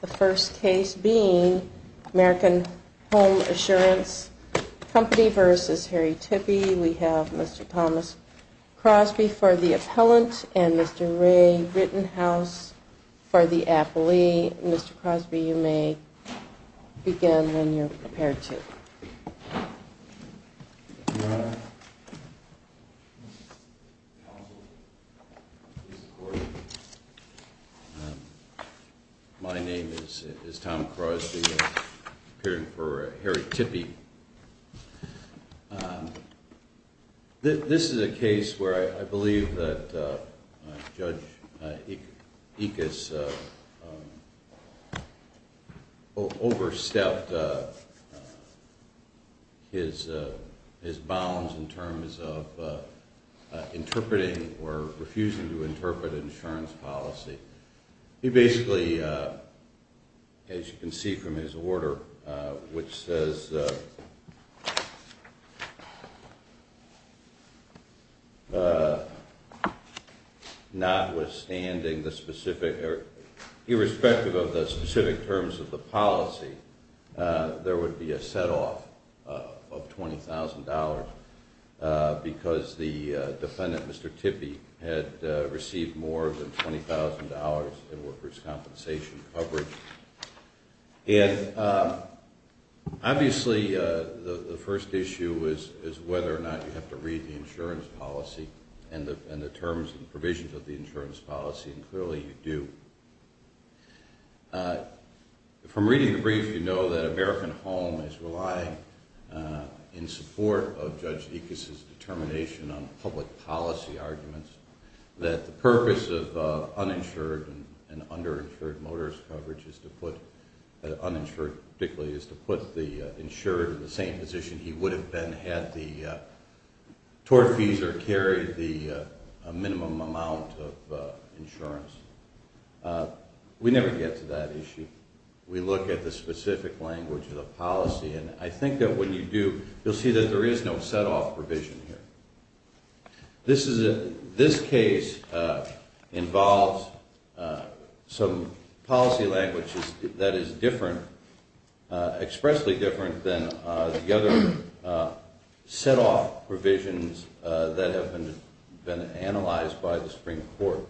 The first case being American Home Assurance Company v. Harry Tippie. We have Mr. Thomas Crosby for the appellant and Mr. Ray Rittenhouse for the appellee. Mr. Crosby, you may begin when you're prepared to. Your Honor. Counsel. My name is Tom Crosby, appearing for Harry Tippie. This is a case where I believe that Judge Ickes overstepped his bounds in terms of interpreting or refusing to interpret insurance policy. He basically, as you can see from his order, which says notwithstanding the specific, irrespective of the specific terms of the policy, there would be a set-off of $20,000 because the defendant, Mr. Tippie, had received more than $20,000 in workers' compensation coverage. Obviously, the first issue is whether or not you have to read the insurance policy and the terms and provisions of the insurance policy, and clearly you do. From reading the brief, you know that American Home is relying in support of Judge Ickes' determination on public policy arguments that the purpose of uninsured and underinsured motorist coverage is to put the insured in the same position he would have been had the tortfeasor carried the minimum amount of insurance. We never get to that issue. We look at the specific language of the policy, and I think that when you do, you'll see that there is no set-off provision here. This case involves some policy language that is different, expressly different, than the other set-off provisions that have been analyzed by the Supreme Court.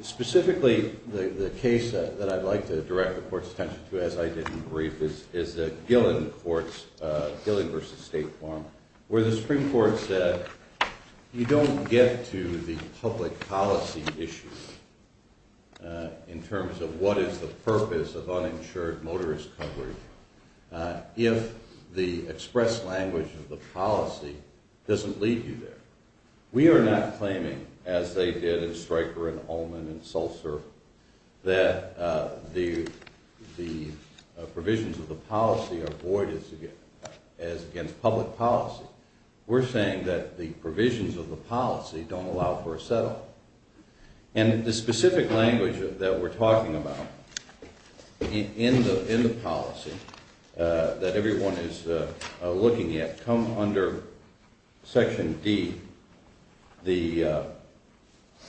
Specifically, the case that I'd like to direct the Court's attention to, as I did in the brief, is the Gillen versus State form, where the Supreme Court said you don't get to the public policy issue in terms of what is the purpose of uninsured motorist coverage if the express language of the policy doesn't lead you there. We are not claiming, as they did in Stryker and Ullman and Sulzer, that the provisions of the policy are void as against public policy. We're saying that the provisions of the policy don't allow for a set-off. And the specific language that we're talking about in the policy that everyone is looking at comes under Section D, the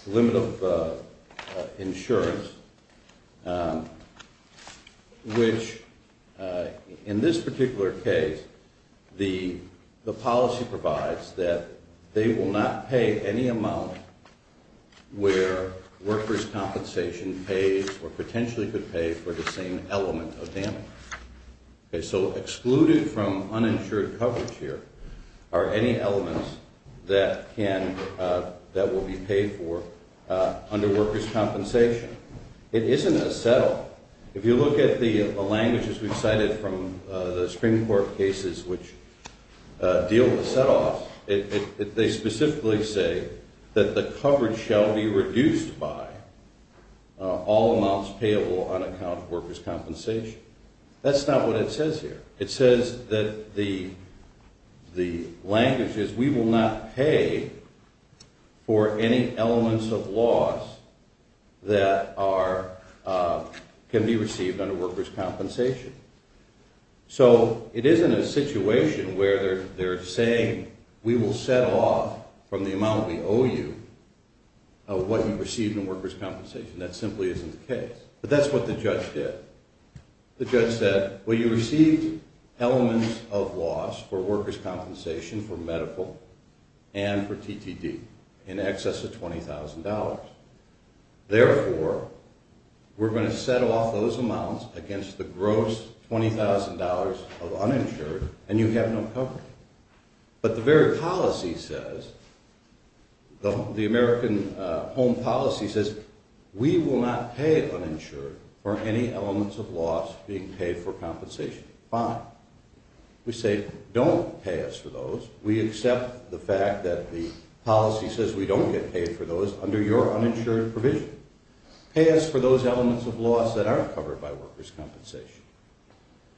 limit of insurance, which in this particular case, the policy provides that they will not pay any amount where workers' compensation pays or potentially could pay for the same element of damage. So excluded from uninsured coverage here are any elements that will be paid for under workers' compensation. It isn't a set-off. If you look at the languages we've cited from the Supreme Court cases which deal with set-offs, they specifically say that the coverage shall be reduced by all amounts payable on account of workers' compensation. That's not what it says here. It says that the language is, we will not pay for any elements of loss that can be received under workers' compensation. So it isn't a situation where they're saying, we will set off from the amount we owe you of what you receive in workers' compensation. That simply isn't the case. But that's what the judge did. The judge said, well, you received elements of loss for workers' compensation for medical and for TTD in excess of $20,000. Therefore, we're going to set off those amounts against the gross $20,000 of uninsured, and you have no coverage. But the very policy says, the American Home Policy says, we will not pay uninsured for any elements of loss being paid for compensation. Fine. We say, don't pay us for those. We accept the fact that the policy says we don't get paid for those under your uninsured provision. Pay us for those elements of loss that aren't covered by workers' compensation.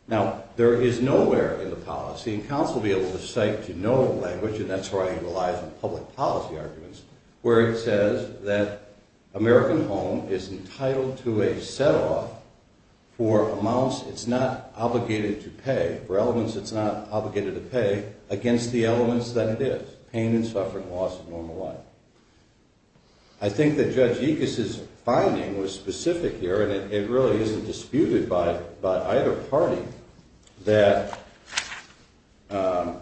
Now, there is nowhere in the policy, and counsel will be able to cite to no language, and that's where I utilize in public policy arguments, where it says that American Home is entitled to a set-off for amounts it's not obligated to pay, for elements it's not obligated to pay, against the elements that it is. I think that Judge Yikes' finding was specific here, and it really isn't disputed by either party, that the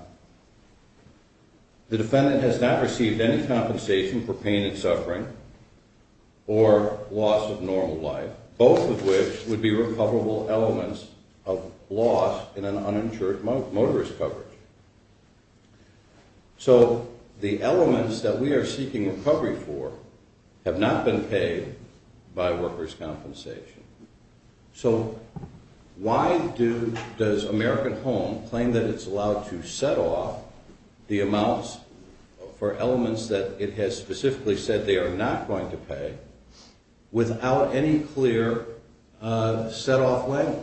defendant has not received any compensation for pain and suffering or loss of normal life, both of which would be recoverable elements of loss in an uninsured motorist coverage. So, the elements that we are seeking recovery for have not been paid by workers' compensation. So, why does American Home claim that it's allowed to set off the amounts for elements that it has specifically said they are not going to pay without any clear set-off language?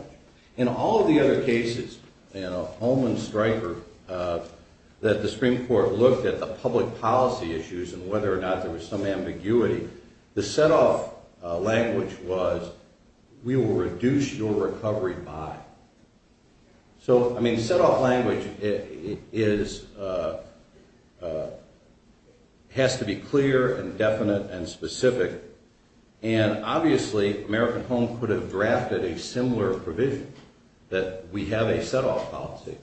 In all of the other cases, you know, Holman, Stryker, that the Supreme Court looked at the public policy issues and whether or not there was some ambiguity, the set-off language was, we will reduce your recovery by. So, I mean, set-off language has to be clear and definite and specific, and obviously, American Home could have drafted a similar provision, that we have a set-off policy,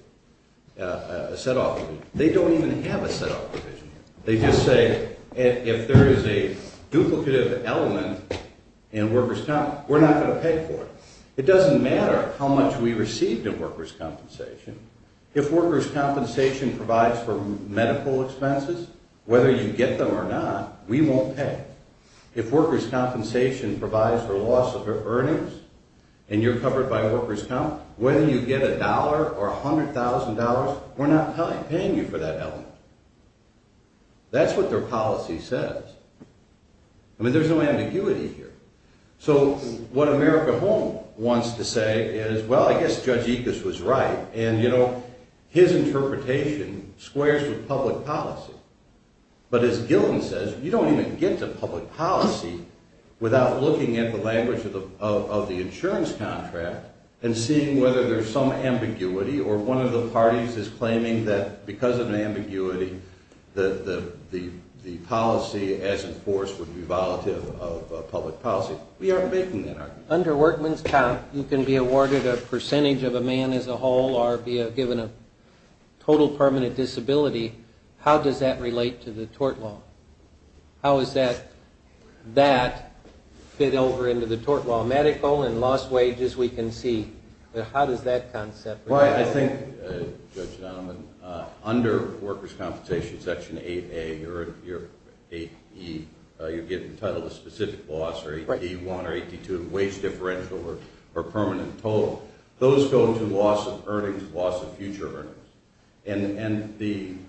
a set-off provision. They don't even have a set-off provision. They just say, if there is a duplicative element in workers' comp, we're not going to pay for it. It doesn't matter how much we received in workers' compensation. If workers' compensation provides for medical expenses, whether you get them or not, we won't pay. If workers' compensation provides for loss of earnings and you're covered by workers' comp, whether you get a dollar or $100,000, we're not paying you for that element. That's what their policy says. I mean, there's no ambiguity here. So, what American Home wants to say is, well, I guess Judge Ickes was right, and, you know, his interpretation squares with public policy. But as Gilton says, you don't even get to public policy without looking at the language of the insurance contract and seeing whether there's some ambiguity, or one of the parties is claiming that because of the ambiguity, the policy as enforced would be volatile of public policy. We aren't making that argument. Under workman's comp, you can be awarded a percentage of a man as a whole or be given a total permanent disability. How does that relate to the tort law? How does that fit over into the tort law? Medical and lost wages, we can see. How does that concept relate? Well, I think, Judge Donovan, under workers' compensation, Section 8A or 8E, you get entitled to specific loss or 8E1 or 8E2, wage differential or permanent total. Those go to loss of earnings, loss of future earnings. And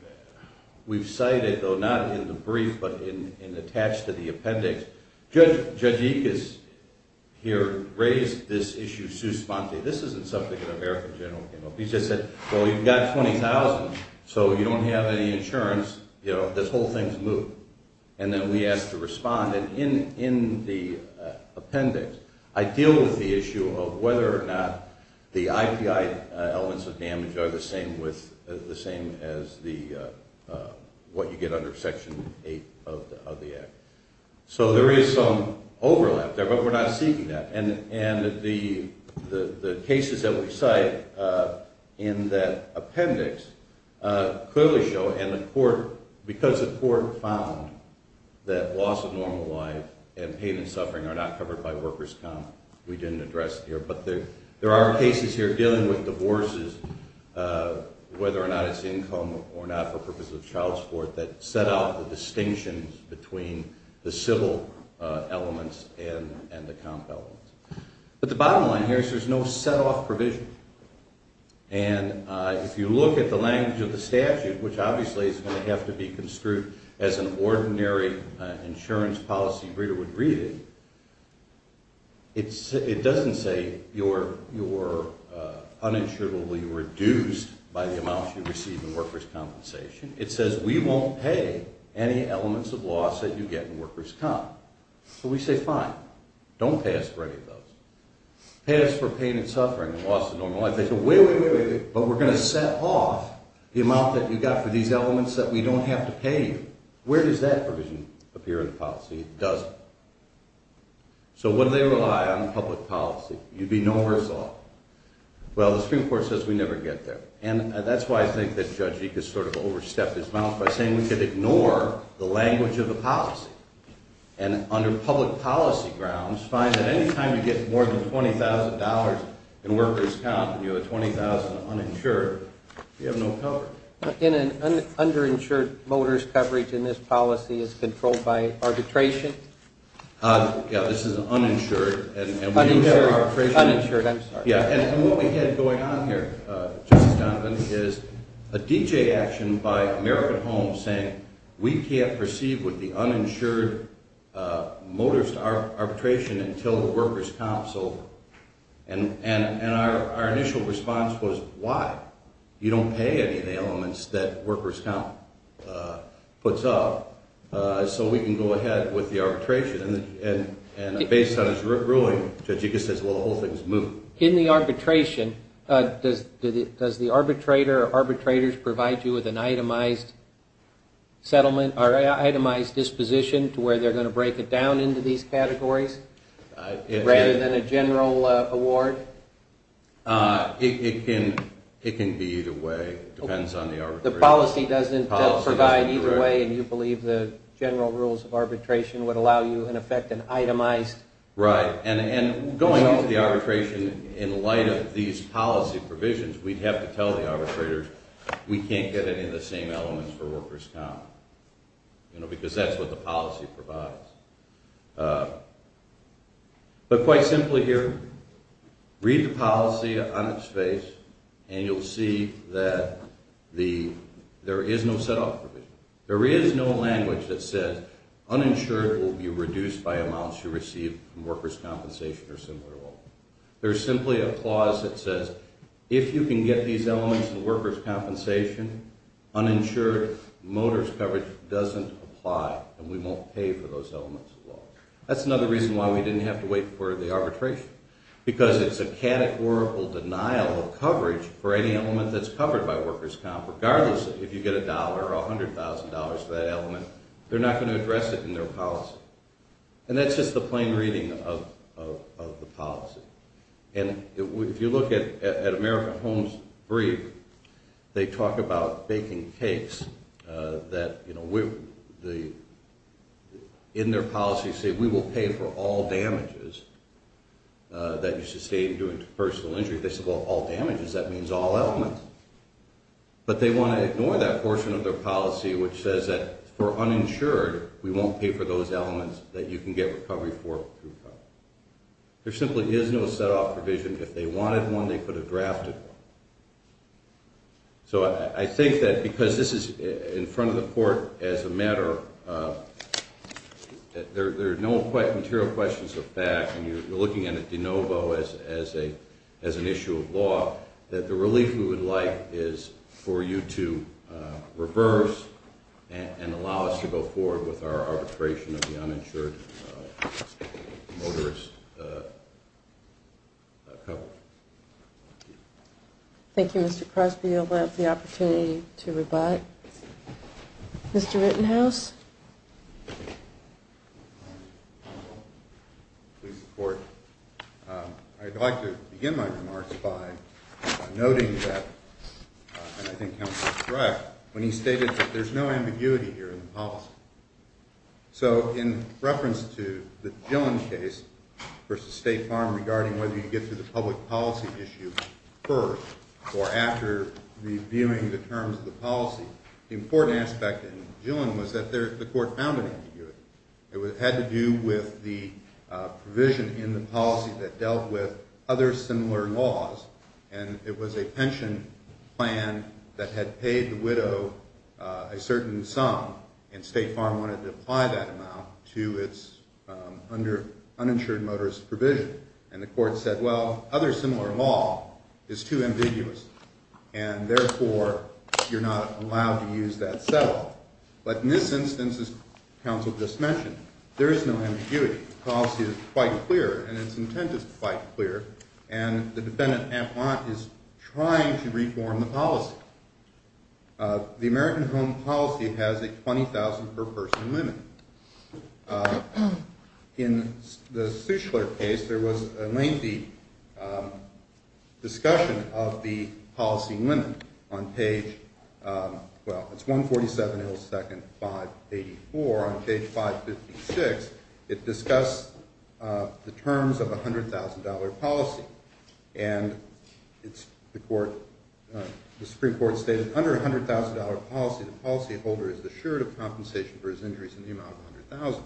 we've cited, though, not in the brief but in attached to the appendix, Judge Ickes here raised this issue sous spante. This isn't something an American general came up with. He just said, well, you've got $20,000, so you don't have any insurance. This whole thing's moot. And then we asked to respond. And in the appendix, I deal with the issue of whether or not the IPI elements of damage are the same as what you get under Section 8 of the Act. So there is some overlap there, but we're not seeking that. And the cases that we cite in that appendix clearly show, because the court found that loss of normal life and pain and suffering are not covered by workers' comp, we didn't address it here, but there are cases here dealing with divorces, whether or not it's income or not for purposes of child support, that set out the distinction between the civil elements and the comp elements. But the bottom line here is there's no set-off provision. And if you look at the language of the statute, which obviously is going to have to be construed as an ordinary insurance policy reader would read it, it doesn't say you're uninsurably reduced by the amount you receive in workers' compensation. It says we won't pay any elements of loss that you get in workers' comp. So we say, fine, don't pay us for any of those. Pay us for pain and suffering and loss of normal life. They say, wait, wait, wait, but we're going to set off the amount that you got for these elements that we don't have to pay you. Where does that provision appear in the policy? It doesn't. So what do they rely on in public policy? You'd be no worse off. Well, the Supreme Court says we never get there. And that's why I think that Judge Eekes sort of overstepped his bounds by saying we could ignore the language of the policy. And under public policy grounds, fine, at any time you get more than $20,000 in workers' comp and you have $20,000 uninsured, you have no coverage. Underinsured motorist coverage in this policy is controlled by arbitration? Yeah, this is uninsured. Uninsured, I'm sorry. Yeah, and what we had going on here, Justice Donovan, is a DJ action by American Homes saying we can't proceed with the uninsured motorist arbitration until the workers' comp's over. And our initial response was, why? You don't pay any of the elements that workers' comp puts up so we can go ahead with the arbitration. And based on his ruling, Judge Eekes says, well, the whole thing's moved. In the arbitration, does the arbitrator or arbitrators provide you with an itemized disposition to where they're going to break it down into these categories rather than a general award? It can be either way. It depends on the arbitration. The policy doesn't provide either way and you believe the general rules of arbitration would allow you, in effect, an itemized? Right, and going into the arbitration in light of these policy provisions, we'd have to tell the arbitrators we can't get any of the same elements for workers' comp. You know, because that's what the policy provides. But quite simply here, read the policy on its face and you'll see that there is no set-off provision. There is no language that says uninsured will be reduced by amounts you receive from workers' compensation or similar law. There's simply a clause that says if you can get these elements in workers' compensation, uninsured motors' coverage doesn't apply and we won't pay for those elements at all. That's another reason why we didn't have to wait for the arbitration. Because it's a categorical denial of coverage for any element that's covered by workers' comp, regardless if you get a dollar or $100,000 for that element. They're not going to address it in their policy. And that's just the plain reading of the policy. And if you look at American Homes brief, they talk about baking cakes that, you know, in their policy say we will pay for all damages that you sustain during personal injury. If they say all damages, that means all elements. But they want to ignore that portion of their policy which says that for uninsured, we won't pay for those elements that you can get recovery for through coverage. There simply is no set-off provision. If they wanted one, they could have drafted one. So I think that because this is in front of the court as a matter of – there are no material questions of fact and you're looking at a de novo as an issue of law, that the relief we would like is for you to reverse and allow us to go forward with our arbitration of the uninsured motorist coverage. Thank you. Thank you, Mr. Crosby. You'll have the opportunity to rebut. Mr. Rittenhouse? Please report. I'd like to begin my remarks by noting that, and I think counsel is correct, when he stated that there's no ambiguity here in the policy. So in reference to the Gillen case versus State Farm regarding whether you get to the public policy issue first or after reviewing the terms of the policy, the important aspect in Gillen was that the court found an ambiguity. It had to do with the provision in the policy that dealt with other similar laws, and it was a pension plan that had paid the widow a certain sum, and State Farm wanted to apply that amount to its uninsured motorist provision. And the court said, well, other similar law is too ambiguous, and therefore you're not allowed to use that settle. But in this instance, as counsel just mentioned, there is no ambiguity. The policy is quite clear, and its intent is quite clear, and the defendant, Amplon, is trying to reform the policy. The American Home Policy has a $20,000 per person limit. In the Suessler case, there was a lengthy discussion of the policy limit on page – well, it's 147, second 584. On page 556, it discussed the terms of a $100,000 policy, and the Supreme Court stated under a $100,000 policy, the policyholder is assured of compensation for his injuries in the amount of $100,000.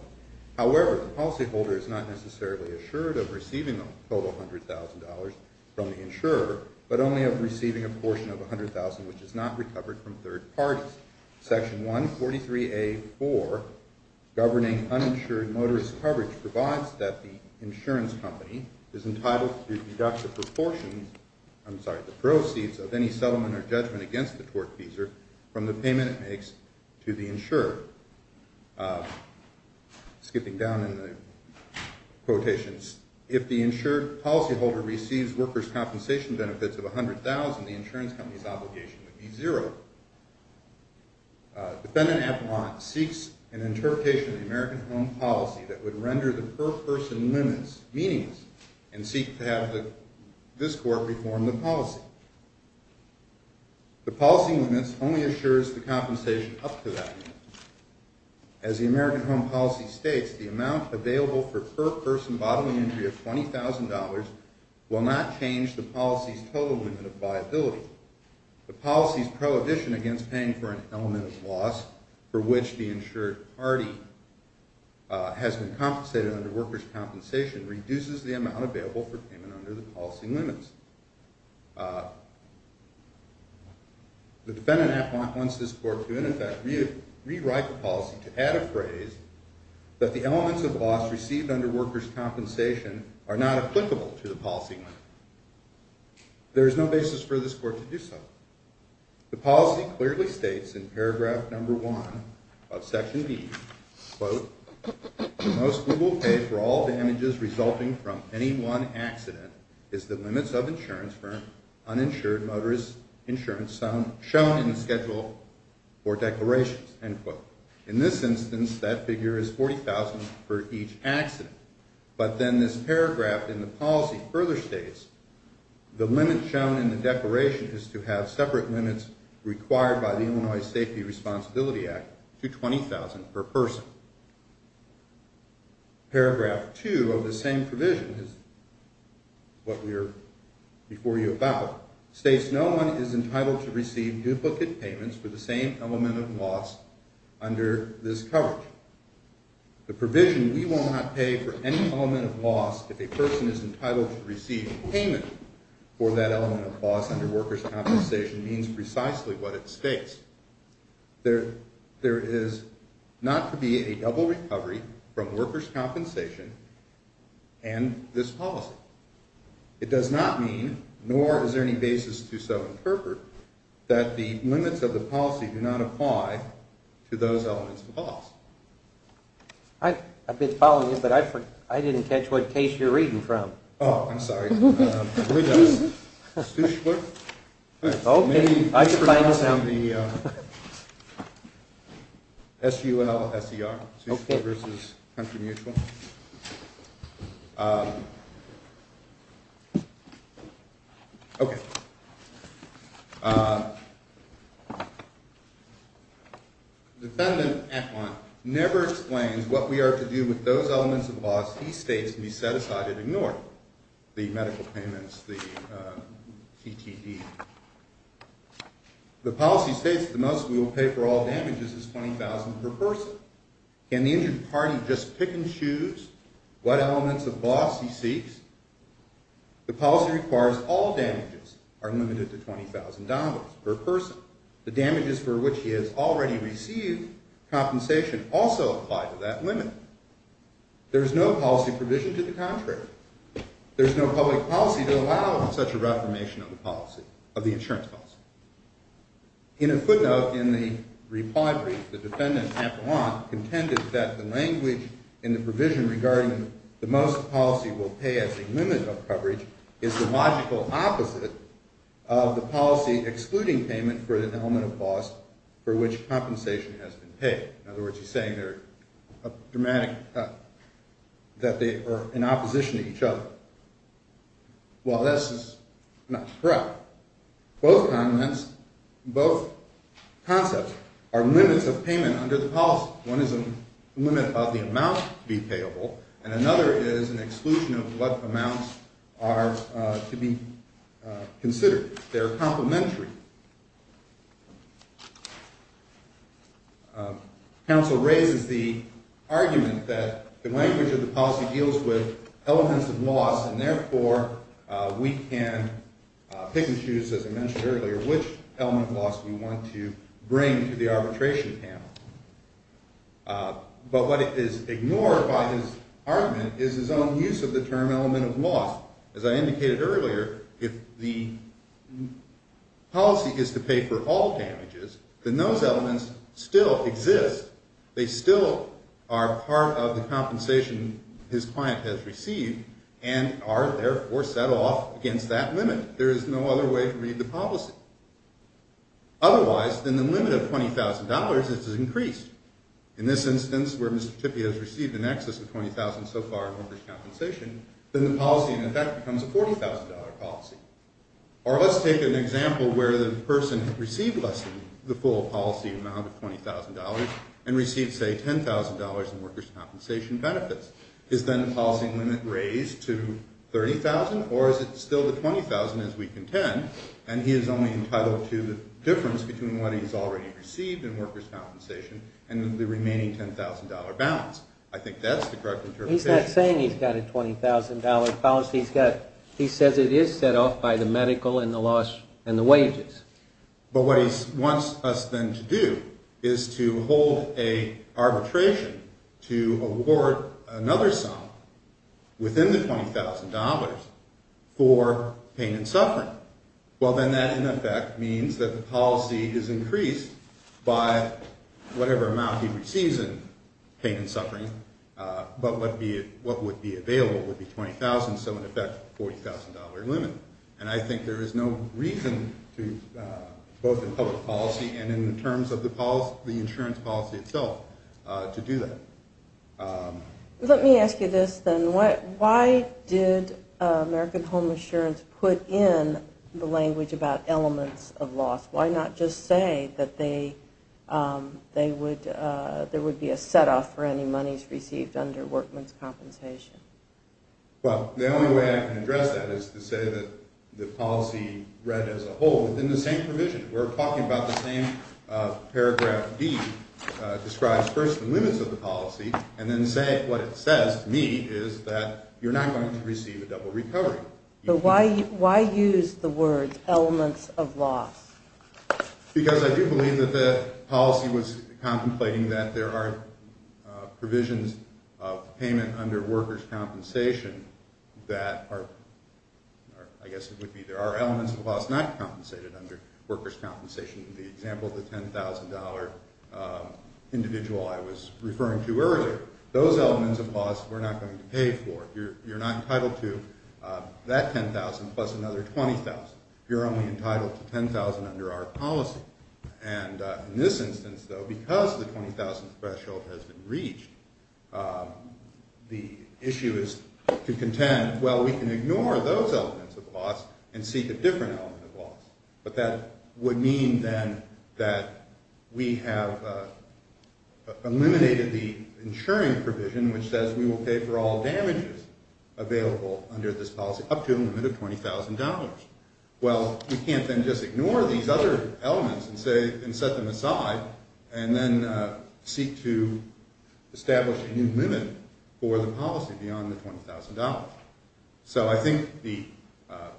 However, the policyholder is not necessarily assured of receiving the total $100,000 from the insurer, but only of receiving a portion of $100,000 which is not recovered from third parties. Section 143A.4, governing uninsured motorist coverage, provides that the insurance company is entitled to deduct the proportions – I'm sorry, the proceeds of any settlement or judgment against the tortfeasor from the payment it makes to the insurer. Skipping down in the quotations, if the insured policyholder receives workers' compensation benefits of $100,000, the insurance company's obligation would be zero. Defendant Amplon seeks an interpretation of the American Home Policy that would render the per-person limits meaningless, and seeks to have this Court reform the policy. The policy limits only assures the compensation up to that limit. As the American Home Policy states, the amount available for per-person bodily injury of $20,000 will not change the policy's total limit of liability. The policy's prohibition against paying for an element of loss for which the insured party has been compensated under workers' compensation reduces the amount available for payment under the policy limits. The Defendant Amplon wants this Court to, in effect, rewrite the policy to add a phrase that the elements of loss received under workers' compensation are not applicable to the policy limit. There is no basis for this Court to do so. The policy clearly states in paragraph number one of section D, quote, the most we will pay for all damages resulting from any one accident is the limits of insurance for uninsured motorists' insurance shown in the schedule for declarations, end quote. In this instance, that figure is $40,000 for each accident. But then this paragraph in the policy further states, the limit shown in the declaration is to have separate limits required by the Illinois Safety Responsibility Act to $20,000 per person. Paragraph two of the same provision states no one is entitled to receive duplicate payments for the same element of loss under this coverage. The provision we will not pay for any element of loss if a person is entitled to receive payment for that element of loss under workers' compensation means precisely what it states. There is not to be a double recovery from workers' compensation and this policy. It does not mean, nor is there any basis to so interpret, that the limits of the policy do not apply to those elements of the policy. I've been following this, but I didn't catch what case you're reading from. Oh, I'm sorry. Suessler versus Country Mutual. Okay. Defendant Atwant never explains what we are to do with those elements of loss he states can be set aside and ignored. The medical payments, the TTE. The policy states the most we will pay for all damages is $20,000 per person. Can the injured party just pick and choose what elements of loss he seeks? The policy requires all damages are limited to $20,000 per person. The damages for which he has already received compensation also apply to that limit. There is no policy provision to the contrary. There is no public policy to allow such a reformation of the policy, of the insurance policy. In a footnote in the reply brief, the defendant Atwant contended that the language in the provision regarding the most the policy will pay as a limit of coverage is the logical opposite of the policy excluding payment for an element of loss for which compensation has been paid. In other words, he's saying that they are in opposition to each other. Well, this is not correct. Both arguments, both concepts are limits of payment under the policy. One is a limit of the amount to be payable, and another is an exclusion of what amounts are to be considered. They are complementary. Counsel raises the argument that the language of the policy deals with elements of loss, and therefore we can pick and choose, as I mentioned earlier, which element of loss we want to bring to the arbitration panel. But what is ignored by his argument is his own use of the term element of loss. As I indicated earlier, if the policy is to pay for all damages, then those elements still exist. They still are part of the compensation his client has received and are, therefore, set off against that limit. There is no other way to read the policy. Otherwise, then the limit of $20,000 is increased. In this instance, where Mr. Tippie has received in excess of $20,000 so far in workers' compensation, then the policy, in effect, becomes a $40,000 policy. Or let's take an example where the person received less than the full policy amount of $20,000 and received, say, $10,000 in workers' compensation benefits. Is then the policy limit raised to $30,000, or is it still the $20,000 as we contend, and he is only entitled to the difference between what he's already received in workers' compensation and the remaining $10,000 balance? I think that's the correct interpretation. He's not saying he's got a $20,000 balance. He says it is set off by the medical and the wages. But what he wants us, then, to do is to hold an arbitration to award another sum within the $20,000 for pain and suffering. Well, then that, in effect, means that the policy is increased by whatever amount he receives in pain and suffering, but what would be available would be $20,000, so, in effect, $40,000 limit. And I think there is no reason, both in public policy and in terms of the insurance policy itself, to do that. Let me ask you this, then. Why did American Home Insurance put in the language about elements of loss? Why not just say that there would be a set-off for any monies received under workmen's compensation? Well, the only way I can address that is to say that the policy, read as a whole, is in the same provision. We're talking about the same Paragraph D describes, first, the limits of the policy, and then saying what it says to me is that you're not going to receive a double recovery. But why use the words elements of loss? Because I do believe that the policy was contemplating that there are provisions of payment under workers' compensation that are, I guess it would be there are elements of loss not compensated under workers' compensation. The example of the $10,000 individual I was referring to earlier, those elements of loss we're not going to pay for. You're not entitled to that $10,000 plus another $20,000. You're only entitled to $10,000 under our policy. And in this instance, though, because the $20,000 threshold has been reached, the issue is to contend, well, we can ignore those elements of loss and seek a different element of loss. But that would mean, then, that we have eliminated the insuring provision, which says we will pay for all damages available under this policy up to a limit of $20,000. Well, we can't then just ignore these other elements and set them aside and then seek to establish a new limit for the policy beyond the $20,000. So I think the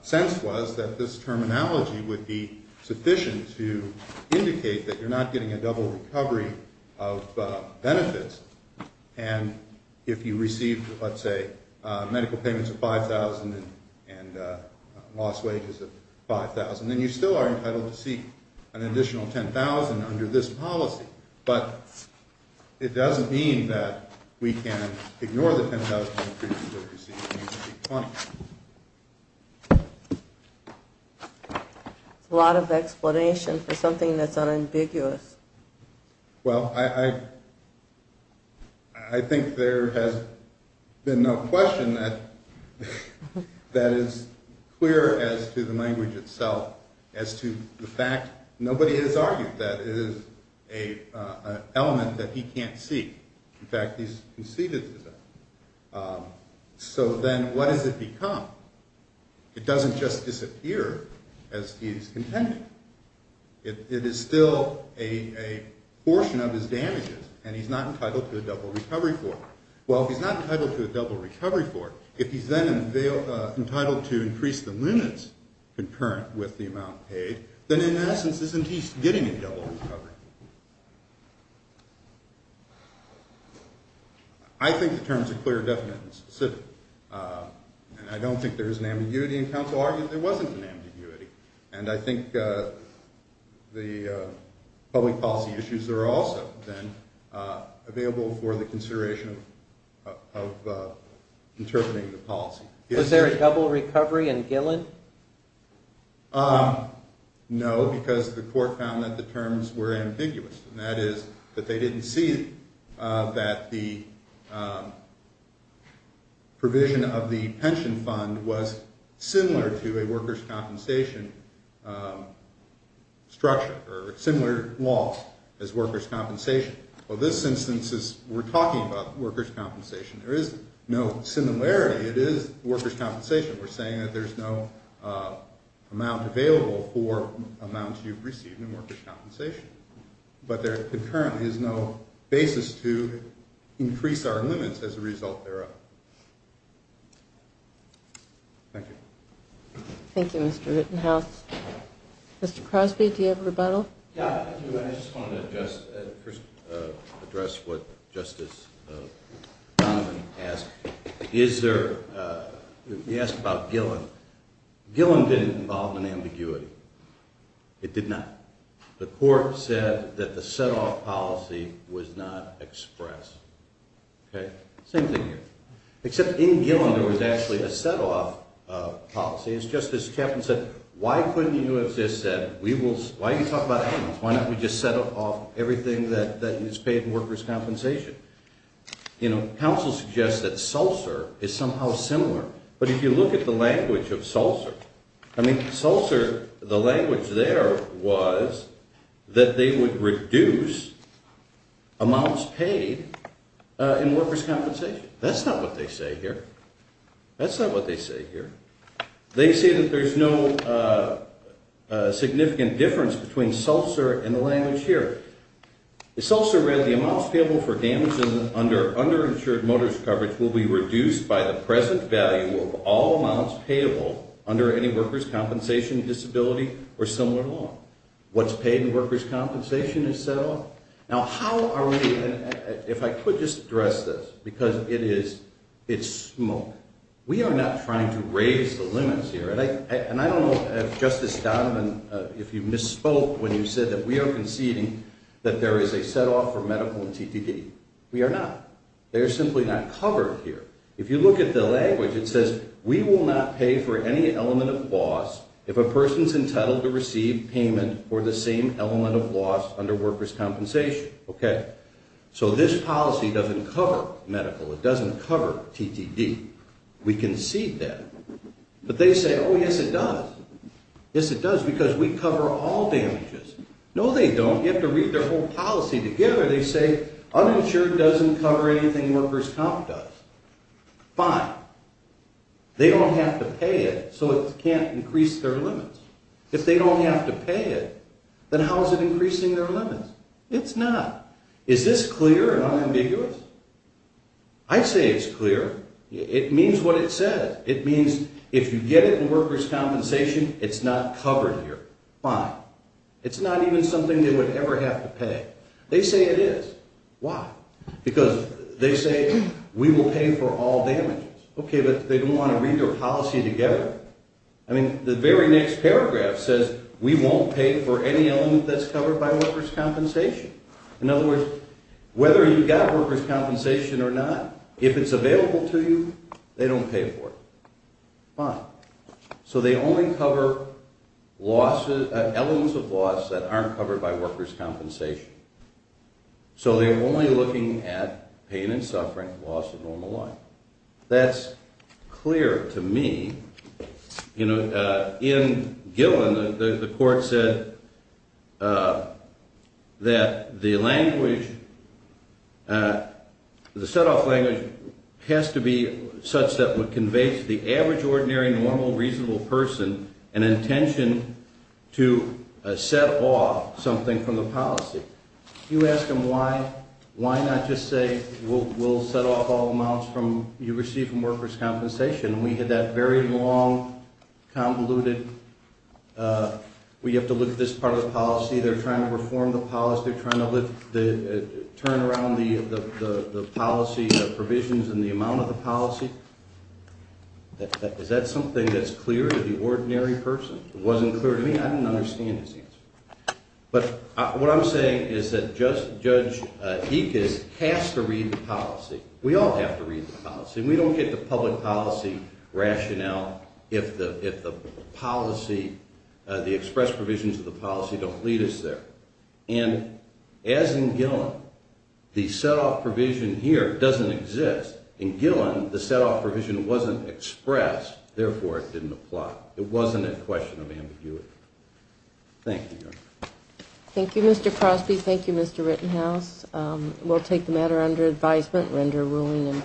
sense was that this terminology would be sufficient to indicate that you're not getting a double recovery of benefits. And if you receive, let's say, medical payments of $5,000 and lost wages of $5,000, then you still are entitled to seek an additional $10,000 under this policy. But it doesn't mean that we can ignore the $10,000 increase that we're receiving under P20. That's a lot of explanation for something that's unambiguous. Well, I think there has been no question that is clear as to the language itself, as to the fact nobody has argued that it is an element that he can't seek. In fact, he's conceded to that. So then what does it become? It doesn't just disappear as he's contended. It is still a portion of his damages, and he's not entitled to a double recovery for it. Well, if he's not entitled to a double recovery for it, if he's then entitled to increase the limits concurrent with the amount paid, then in essence isn't he getting a double recovery? I think the terms are clear, definite, and specific. And I don't think there is an ambiguity, and counsel argued there wasn't an ambiguity. And I think the public policy issues are also then available for the consideration of interpreting the policy. Was there a double recovery in Gillen? No, because the court found that the terms were ambiguous. And that is that they didn't see that the provision of the pension fund was similar to a workers' compensation structure or similar law as workers' compensation. Well, this instance is we're talking about workers' compensation. There is no similarity. It is workers' compensation. We're saying that there's no amount available for amounts you've received in workers' compensation. But there concurrently is no basis to increase our limits as a result thereof. Thank you. Thank you, Mr. Rittenhouse. Mr. Crosby, do you have a rebuttal? Yeah, I do. I just wanted to first address what Justice Donovan asked. He asked about Gillen. Gillen didn't involve an ambiguity. It did not. The court said that the set-off policy was not expressed. Okay? Same thing here. Except in Gillen, there was actually a set-off policy. As Justice Chapman said, why couldn't you have just said, why don't we just set off everything that is paid in workers' compensation? You know, counsel suggests that SELSER is somehow similar. But if you look at the language of SELSER, I mean, SELSER, the language there was that they would reduce amounts paid in workers' compensation. That's not what they say here. That's not what they say here. They say that there's no significant difference between SELSER and the language here. SELSER read, the amounts payable for damages under underinsured motorist coverage will be reduced by the present value of all amounts payable under any workers' compensation disability or similar law. What's paid in workers' compensation is SELSER. Now, how are we – if I could just address this, because it is – it's smoke. We are not trying to raise the limits here. And I don't know if Justice Donovan, if you misspoke when you said that we are conceding that there is a set-off for medical and TTD. We are not. They are simply not covered here. If you look at the language, it says, we will not pay for any element of loss if a person is entitled to receive payment for the same element of loss under workers' compensation. Okay. So this policy doesn't cover medical. It doesn't cover TTD. We concede that. But they say, oh, yes, it does. Yes, it does, because we cover all damages. No, they don't. You have to read their whole policy together. They say, uninsured doesn't cover anything workers' comp does. Fine. They don't have to pay it, so it can't increase their limits. If they don't have to pay it, then how is it increasing their limits? It's not. Is this clear and unambiguous? I'd say it's clear. It means what it says. It means if you get it in workers' compensation, it's not covered here. Fine. It's not even something they would ever have to pay. They say it is. Why? Because they say, we will pay for all damages. Okay, but they don't want to read their policy together. I mean, the very next paragraph says, we won't pay for any element that's covered by workers' compensation. In other words, whether you've got workers' compensation or not, if it's available to you, they don't pay for it. Fine. So they only cover losses, elements of loss that aren't covered by workers' compensation. So they're only looking at pain and suffering, loss of normal life. That's clear to me. In Gillen, the court said that the language, the set-off language, has to be such that it conveys to the average, ordinary, normal, reasonable person an intention to set off something from the policy. You ask them why, why not just say, we'll set off all amounts you receive from workers' compensation? We had that very long, convoluted, we have to look at this part of the policy. They're trying to reform the policy. They're trying to turn around the policy provisions and the amount of the policy. Is that something that's clear to the ordinary person? It wasn't clear to me. I didn't understand his answer. But what I'm saying is that Judge Ickes has to read the policy. We all have to read the policy. We don't get the public policy rationale if the policy, the express provisions of the policy don't lead us there. And as in Gillen, the set-off provision here doesn't exist. In Gillen, the set-off provision wasn't expressed. Therefore, it didn't apply. It wasn't a question of ambiguity. Thank you, Your Honor. Thank you, Mr. Crosby. Thank you, Mr. Rittenhouse. We'll take the matter under advisement. Render ruling.